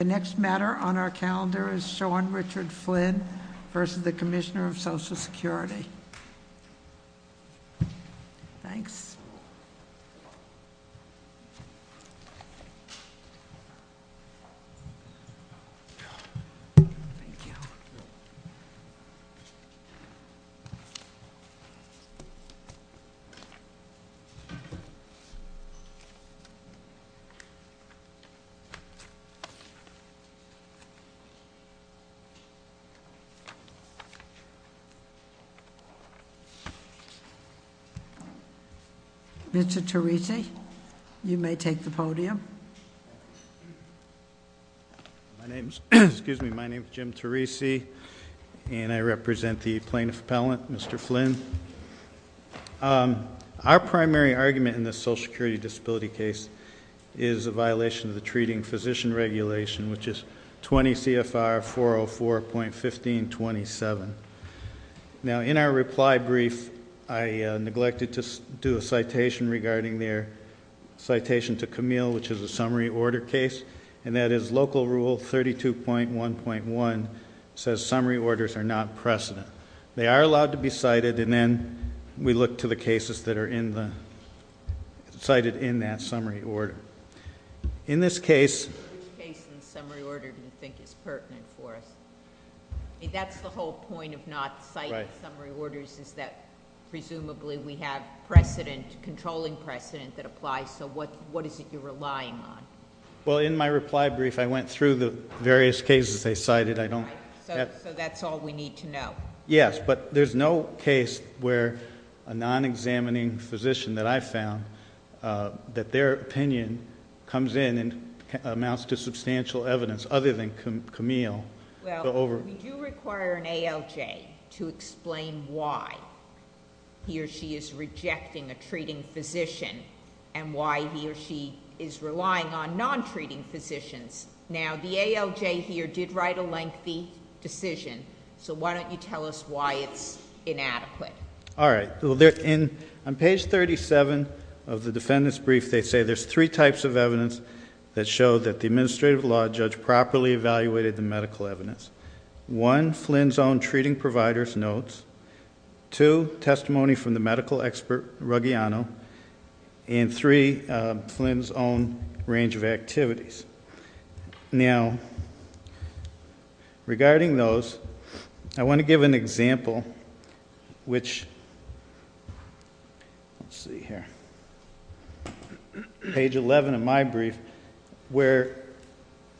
The next matter on our calendar is Sean Richard Flynn versus the Commissioner of Social Security. Thanks. Mr. Teresi, you may take the podium. My name is Jim Teresi, and I represent the Plaintiff Appellant, Mr. Flynn. Our primary argument in this social security disability case is a violation of the treating physician regulation, which is 20 CFR 404.1527. Now, in our reply brief, I neglected to do a citation regarding their citation to Camille, which is a summary order case. And that is local rule 32.1.1 says summary orders are not precedent. They are allowed to be cited, and then we look to the cases that are cited in that summary order. In this case- Which case in the summary order do you think is pertinent for us? I mean, that's the whole point of not citing summary orders, is that presumably we have precedent, controlling precedent that applies. So what is it you're relying on? Well, in my reply brief, I went through the various cases they cited. So that's all we need to know. Yes, but there's no case where a non-examining physician that I found, that their opinion comes in and amounts to substantial evidence other than Camille. Well, we do require an ALJ to explain why he or she is rejecting a treating physician, and why he or she is relying on non-treating physicians. Now, the ALJ here did write a lengthy decision, so why don't you tell us why it's inadequate? All right, on page 37 of the defendant's brief, they say there's three types of evidence that show that the administrative law judge properly evaluated the medical evidence. One, Flynn's own treating provider's notes. Two, testimony from the medical expert, Ruggiano, and three, Flynn's own range of activities. Now, regarding those, I want to give an example which, let's see here, page 11 of my brief, where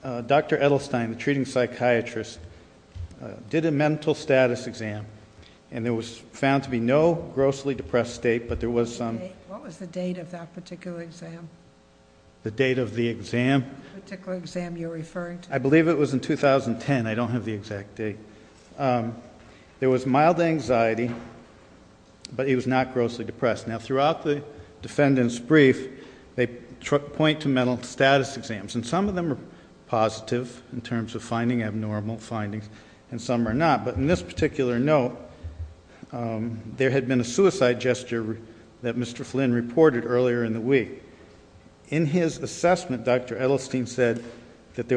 Dr. Edelstein, the treating psychiatrist, did a mental status exam. And there was found to be no grossly depressed state, but there was some- What was the date of that particular exam? The date of the exam? The particular exam you're referring to. I believe it was in 2010, I don't have the exact date. There was mild anxiety, but he was not grossly depressed. Now, throughout the defendant's brief, they point to mental status exams. And some of them are positive, in terms of finding abnormal findings, and some are not. But in this particular note, there had been a suicide gesture that Mr. Flynn reported earlier in the week. In his assessment, Dr. Edelstein said that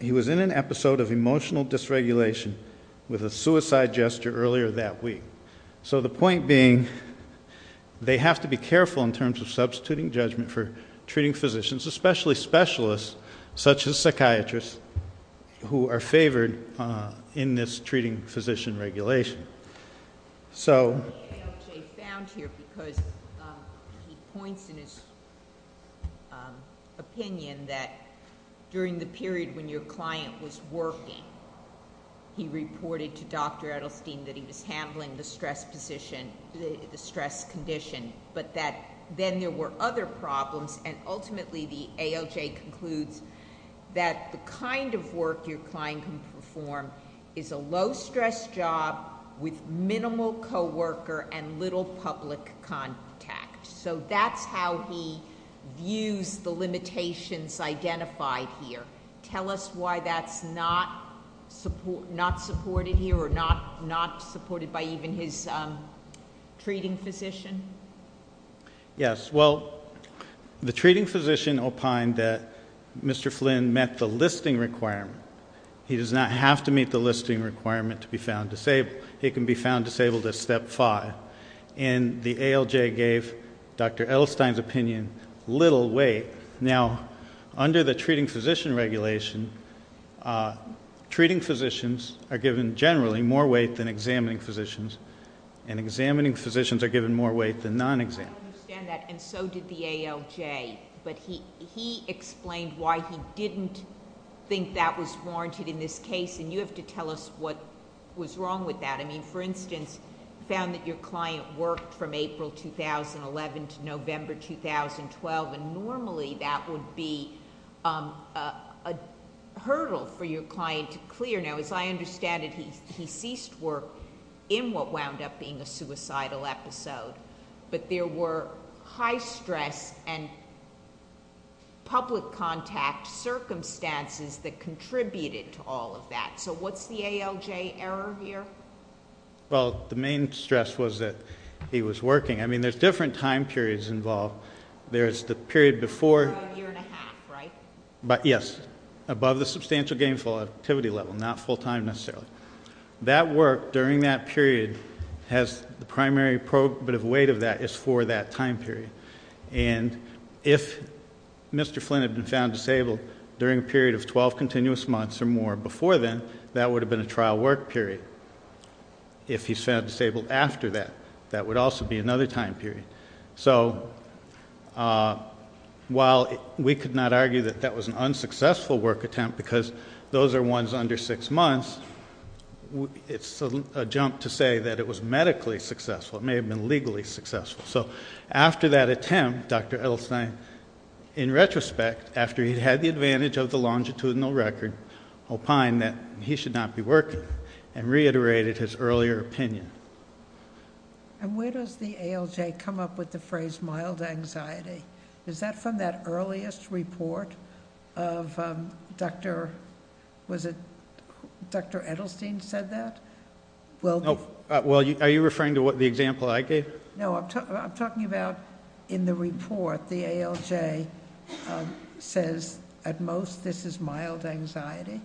he was in an episode of emotional dysregulation with a suicide gesture earlier that week. So the point being, they have to be careful in terms of substituting judgment for treating physicians, especially specialists, such as psychiatrists, who are favored in this treating physician regulation. So- I think AOJ found here, because he points in his opinion that during the period when your client was working, he reported to Dr. Edelstein that he was handling the stress condition, but that then there were other problems, and ultimately the AOJ concludes that the kind of work your client can perform is a low stress job with minimal co-worker and little public contact. So that's how he views the limitations identified here. Tell us why that's not supported here, or not supported by even his treating physician? Yes, well, the treating physician opined that Mr. Flynn met the listing requirement. He does not have to meet the listing requirement to be found disabled. He can be found disabled at step five. And the ALJ gave Dr. Edelstein's opinion little weight. Now, under the treating physician regulation, treating physicians are given, generally, more weight than examining physicians. And examining physicians are given more weight than non-exam- I understand that, and so did the ALJ. But he explained why he didn't think that was warranted in this case, and you have to tell us what was wrong with that. I mean, for instance, found that your client worked from April 2011 to November 2012. And normally, that would be a hurdle for your client to clear. Now, as I understand it, he ceased work in what wound up being a suicidal episode. But there were high stress and public contact circumstances that contributed to all of that. So what's the ALJ error here? Well, the main stress was that he was working. I mean, there's different time periods involved. There's the period before- A year and a half, right? Yes, above the substantial gainful activity level, not full time necessarily. That work during that period has the primary probative weight of that is for that time period. And if Mr. Flynn had been found disabled during a period of 12 continuous months or more before then, that would have been a trial work period. If he's found disabled after that, that would also be another time period. So, while we could not argue that that was an unsuccessful work attempt because those are ones under six months, it's a jump to say that it was medically successful. It may have been legally successful. So after that attempt, Dr. Edelstein, in retrospect, after he had the advantage of the longitudinal record, opined that he should not be working. And reiterated his earlier opinion. And where does the ALJ come up with the phrase mild anxiety? Is that from that earliest report of Dr., was it Dr. Edelstein said that? Well- No, well, are you referring to the example I gave? No, I'm talking about in the report, the ALJ says at most this is mild anxiety.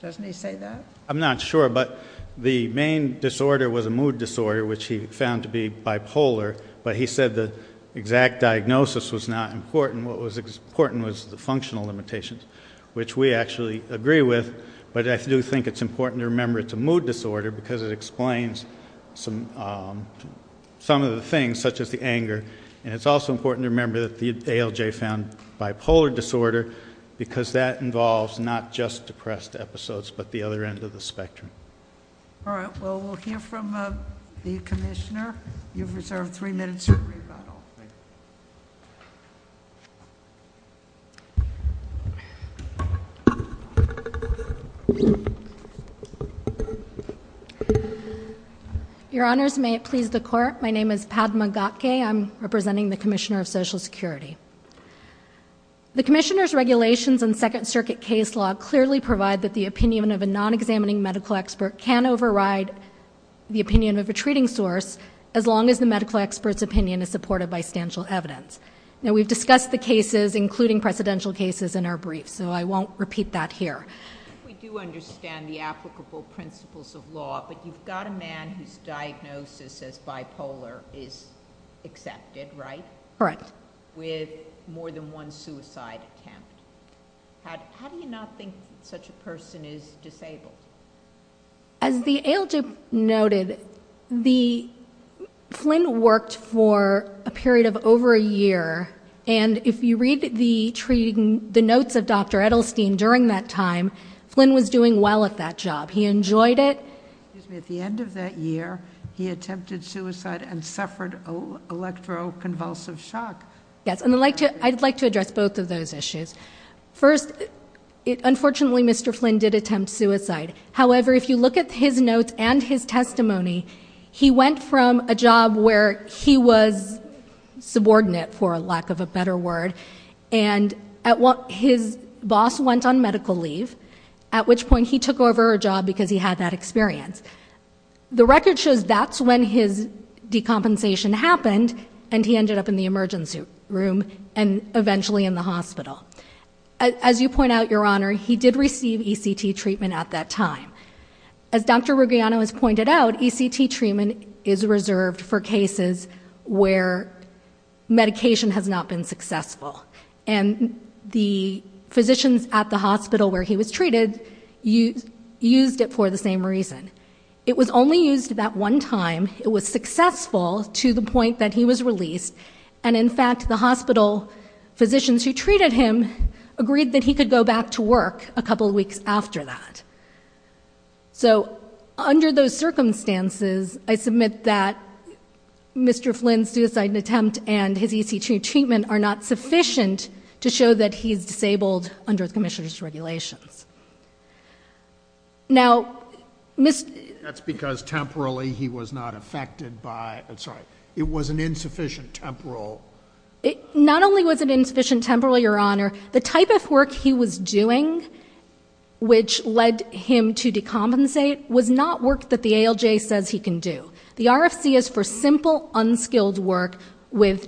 Doesn't he say that? I'm not sure, but the main disorder was a mood disorder, which he found to be bipolar. But he said the exact diagnosis was not important. What was important was the functional limitations, which we actually agree with. But I do think it's important to remember it's a mood disorder because it explains some of the things, such as the anger. And it's also important to remember that the ALJ found bipolar disorder, because that involves not just depressed episodes, but the other end of the spectrum. All right, well, we'll hear from the commissioner. You've reserved three minutes for rebuttal. Thank you. Your honors, may it please the court. My name is Padma Gatke. I'm representing the Commissioner of Social Security. The commissioner's regulations and second circuit case law clearly provide that the opinion of a non-examining medical expert can override the opinion of a treating source, as long as the medical expert's opinion is supported by stanchial evidence. Now, we've discussed the cases, including precedential cases, in our brief, so I won't repeat that here. We do understand the applicable principles of law, but you've got a man whose diagnosis as bipolar is accepted, right? Correct. With more than one suicide attempt. How do you not think such a person is disabled? As the ALJ noted, Flynn worked for a period of over a year. And if you read the notes of Dr. Edelstein during that time, Flynn was doing well at that job. He enjoyed it. Excuse me, at the end of that year, he attempted suicide and suffered electroconvulsive shock. Yes, and I'd like to address both of those issues. First, unfortunately, Mr. Flynn did attempt suicide. However, if you look at his notes and his testimony, he went from a job where he was subordinate, for lack of a better word. And his boss went on medical leave, at which point he took over a job because he had that experience. The record shows that's when his decompensation happened, and he ended up in the emergency room, and eventually in the hospital. As you point out, Your Honor, he did receive ECT treatment at that time. As Dr. Rugiano has pointed out, ECT treatment is reserved for cases where medication has not been successful. And the physicians at the hospital where he was treated used it for the same reason. It was only used that one time, it was successful to the point that he was released. And in fact, the hospital physicians who treated him agreed that he could go back to work a couple weeks after that. So, under those circumstances, I submit that Mr. Flynn's suicide attempt and his ECT treatment are not sufficient to show that he's disabled under commissioner's regulations. Now, Mr- That's because temporally he was not affected by, I'm sorry, it was an insufficient temporal. It not only was it insufficient temporal, Your Honor, the type of work he was doing, which led him to decompensate, was not work that the ALJ says he can do. The RFC is for simple, unskilled work with,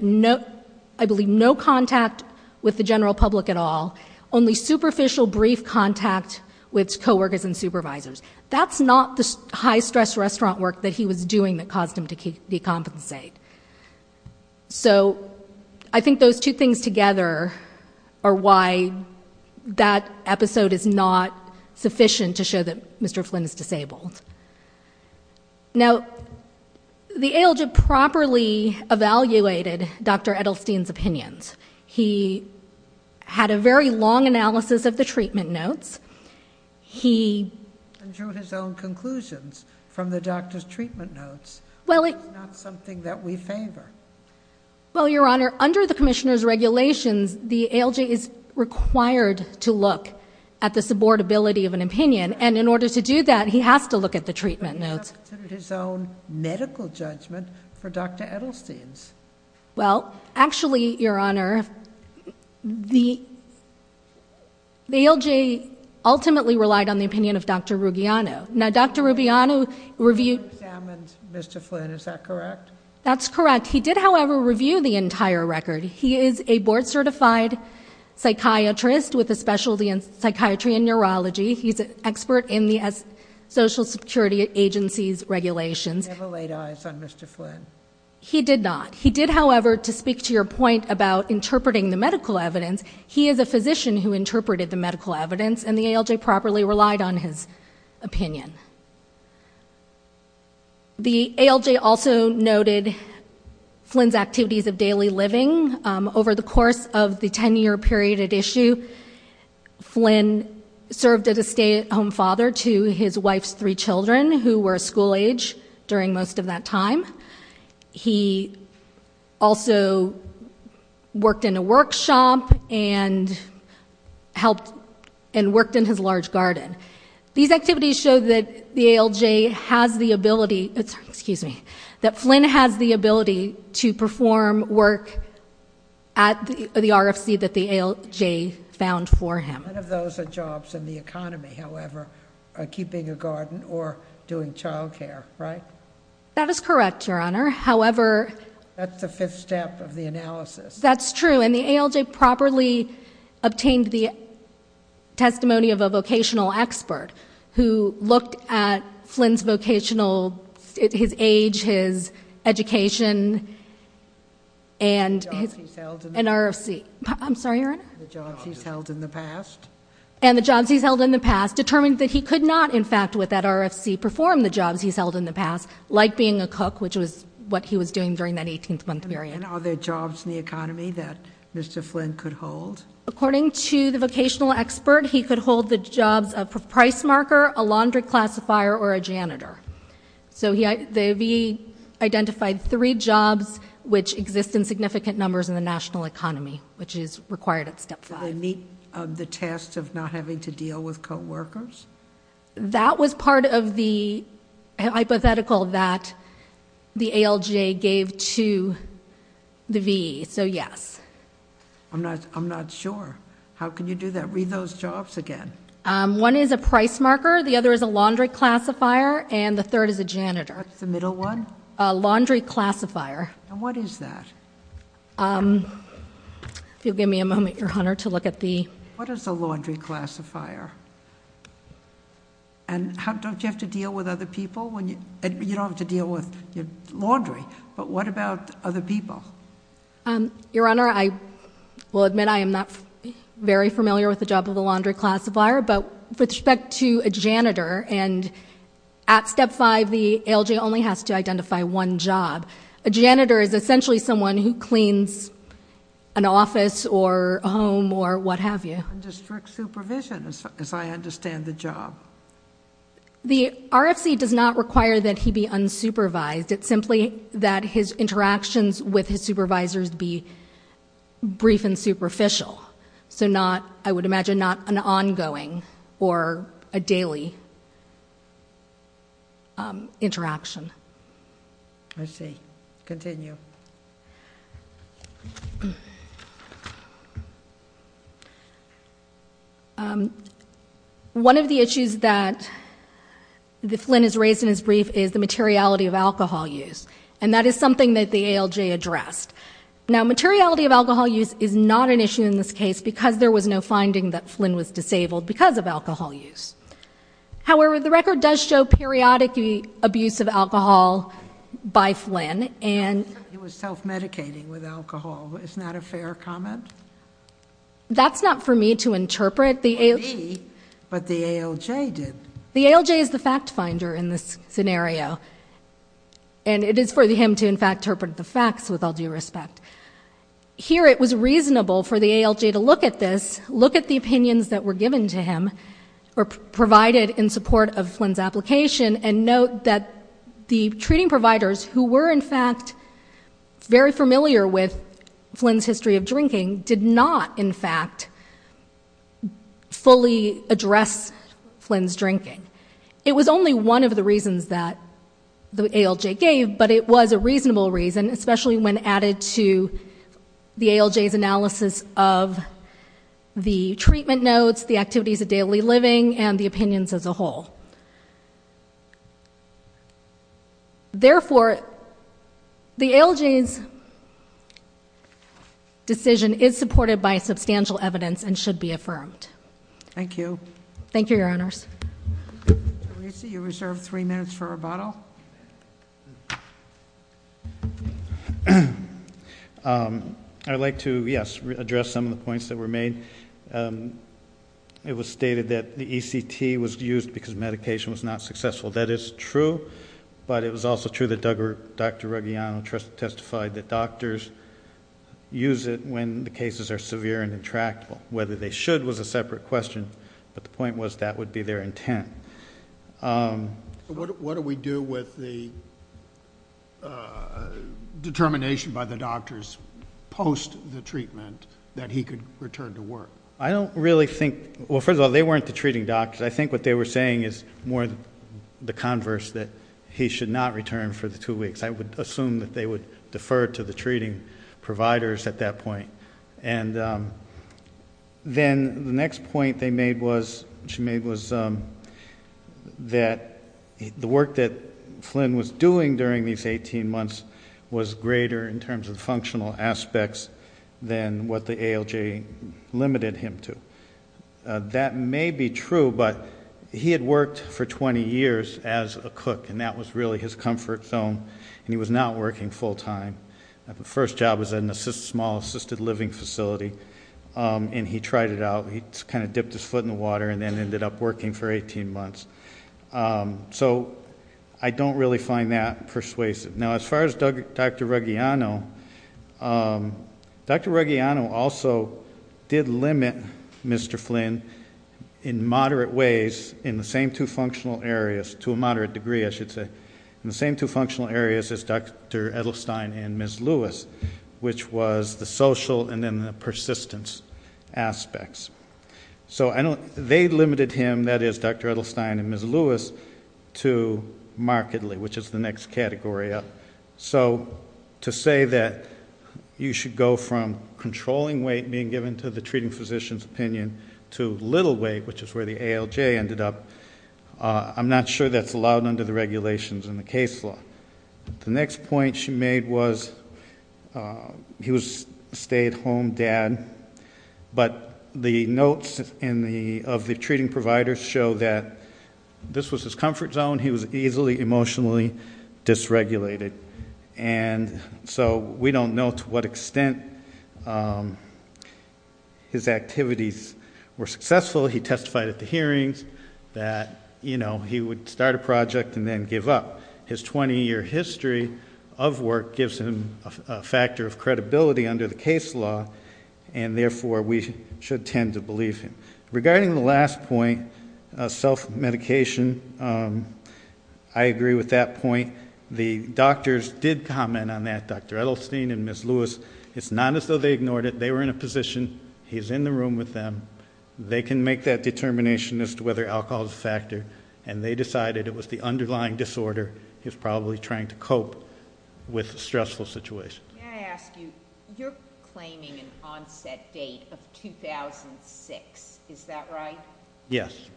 I believe, no contact with the general public at all. Only superficial brief contact with co-workers and supervisors. That's not the high stress restaurant work that he was doing that caused him to decompensate. So, I think those two things together are why that episode is not sufficient to show that Mr. Flynn is disabled. Now, the ALJ properly evaluated Dr. Edelstein's opinions. He had a very long analysis of the treatment notes. He- And drew his own conclusions from the doctor's treatment notes. Well, it- Is that something that we favor? Well, Your Honor, under the commissioner's regulations, the ALJ is required to look at the supportability of an opinion. And in order to do that, he has to look at the treatment notes. But he has to consider his own medical judgment for Dr. Edelstein's. Well, actually, Your Honor, the ALJ ultimately relied on the opinion of Dr. Rubiano. Now, Dr. Rubiano reviewed- Mr. Flynn, is that correct? That's correct. He did, however, review the entire record. He is a board certified psychiatrist with a specialty in psychiatry and neurology. He's an expert in the social security agency's regulations. He never laid eyes on Mr. Flynn. He did not. He did, however, to speak to your point about interpreting the medical evidence, he is a physician who interpreted the medical evidence, and the ALJ properly relied on his opinion. The ALJ also noted Flynn's activities of daily living over the course of the 10-year period at issue. Flynn served as a stay-at-home father to his wife's three children, who were school age during most of that time. He also worked in a workshop and helped and worked in his large garden. These activities show that the ALJ has the ability, excuse me, that Flynn has the ability to perform work at the RFC that the ALJ found for him. None of those are jobs in the economy, however, keeping a garden or doing childcare, right? That is correct, Your Honor, however- That's the fifth step of the analysis. That's true, and the ALJ properly obtained the testimony of a vocational expert who looked at Flynn's vocational, his age, his education, and his- The jobs he's held in the past. An RFC, I'm sorry, Your Honor? The jobs he's held in the past. And the jobs he's held in the past, determined that he could not, in fact, with that RFC, perform the jobs he's held in the past, like being a cook, which was what he was doing during that 18th month period. And are there jobs in the economy that Mr. Flynn could hold? According to the vocational expert, he could hold the jobs of a price marker, a laundry classifier, or a janitor. So they identified three jobs which exist in significant numbers in the national economy, which is required at step five. Did they meet the test of not having to deal with co-workers? That was part of the hypothetical that the ALJ gave to the VE, so yes. I'm not sure. How can you do that? Read those jobs again. One is a price marker, the other is a laundry classifier, and the third is a janitor. What's the middle one? A laundry classifier. And what is that? If you'll give me a moment, Your Honor, to look at the- What is a laundry classifier? And don't you have to deal with other people when you, you don't have to deal with your laundry, but what about other people? Your Honor, I will admit I am not very familiar with the job of a laundry classifier, but with respect to a janitor, and at step five, the ALJ only has to identify one job. A janitor is essentially someone who cleans an office or a home or what have you. Undistrict supervision, as I understand the job. The RFC does not require that he be unsupervised. It's simply that his interactions with his supervisors be brief and superficial. So not, I would imagine, not an ongoing or a daily interaction. I see. Continue. One of the issues that Flynn has raised in his brief is the materiality of alcohol use. And that is something that the ALJ addressed. Now, materiality of alcohol use is not an issue in this case because there was no finding that Flynn was disabled because of alcohol use. However, the record does show periodic abuse of alcohol by Flynn and- He was self-medicating with alcohol. Isn't that a fair comment? That's not for me to interpret. For me, but the ALJ did. The ALJ is the fact finder in this scenario, and it is for him to, in fact, interpret the facts with all due respect. Here it was reasonable for the ALJ to look at this, look at the opinions that were given to him, or provided in support of Flynn's application, and note that the treating providers who were, in fact, very familiar with Flynn's history of drinking did not, in fact, fully address Flynn's drinking. It was only one of the reasons that the ALJ gave, but it was a reasonable reason, especially when added to the ALJ's analysis of the treatment notes, the activities of daily living, and the opinions as a whole. Therefore, the ALJ's decision is supported by substantial evidence and should be affirmed. Thank you. Thank you, your honors. Teresa, you're reserved three minutes for rebuttal. I'd like to, yes, address some of the points that were made. It was stated that the ECT was used because medication was not successful. That is true, but it was also true that Dr. Reggiano testified that doctors use it when the cases are severe and intractable. Whether they should was a separate question, but the point was that would be their intent. What do we do with the determination by the doctors post the treatment that he could return to work? I don't really think, well, first of all, they weren't the treating doctors. I think what they were saying is more the converse that he should not return for the two weeks. I would assume that they would defer to the treating providers at that point. And then the next point they made was, she made was that the work that Flynn was doing during these 18 months was greater in terms of functional aspects than what the ALJ limited him to. That may be true, but he had worked for 20 years as a cook, and that was really his comfort zone, and he was not working full time. The first job was in a small assisted living facility, and he tried it out. He kind of dipped his foot in the water and then ended up working for 18 months. So I don't really find that persuasive. Now as far as Dr. Reggiano, Dr. Reggiano also did limit Mr. Flynn in moderate ways in the same two functional areas, to a moderate degree I should say. In the same two functional areas as Dr. Edelstein and Ms. Lewis, which was the social and then the persistence aspects. So they limited him, that is Dr. Edelstein and Ms. Lewis, to markedly, which is the next category up. So to say that you should go from controlling weight being given to the treating physician's opinion, to little weight, which is where the ALJ ended up, I'm not sure that's allowed under the regulations in the case law. The next point she made was, he was a stay at home dad. But the notes of the treating providers show that this was his comfort zone. He was easily emotionally dysregulated. And so we don't know to what extent his activities were successful. He testified at the hearings that he would start a project and then give up. His 20 year history of work gives him a factor of credibility under the case law. And therefore, we should tend to believe him. Regarding the last point, self-medication, I agree with that point. The doctors did comment on that, Dr. Edelstein and Ms. Lewis. It's not as though they ignored it. They were in a position, he's in the room with them. They can make that determination as to whether alcohol is a factor. And they decided it was the underlying disorder he was probably trying to cope with a stressful situation. Can I ask you, you're claiming an onset date of 2006, is that right? Yes.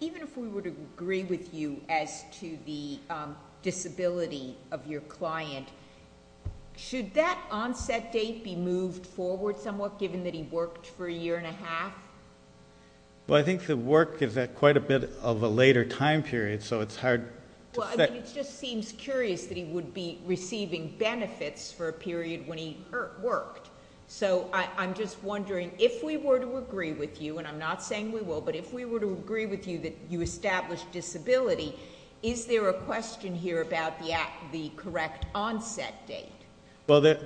Even if we were to agree with you as to the disability of your client, should that onset date be moved forward somewhat, given that he worked for a year and a half? Well, I think the work is at quite a bit of a later time period, so it's hard to say. Well, I mean, it just seems curious that he would be receiving benefits for a period when he worked. So I'm just wondering, if we were to agree with you, and I'm not saying we will, but if we were to agree with you that you established disability, is there a question here about the correct onset date? Well,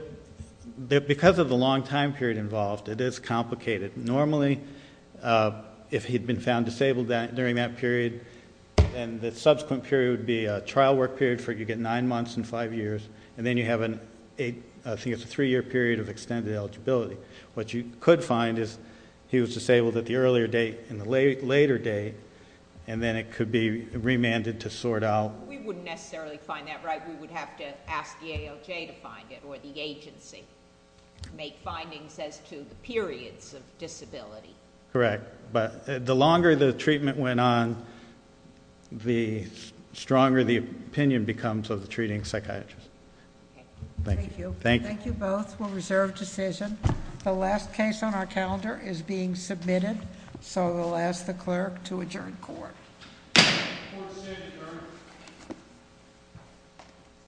because of the long time period involved, it is complicated. Normally, if he'd been found disabled during that period, then the subsequent period would be a trial work period where you get nine months and five years. And then you have, I think it's a three year period of extended eligibility. What you could find is he was disabled at the earlier date and the later date, and then it could be remanded to sort out. We wouldn't necessarily find that, right? We would have to ask the ALJ to find it, or the agency, make findings as to the periods of disability. Correct, but the longer the treatment went on, the stronger the opinion becomes of the treating psychiatrist. Thank you. Thank you both. We'll reserve decision. The last case on our calendar is being submitted, so we'll ask the clerk to adjourn court.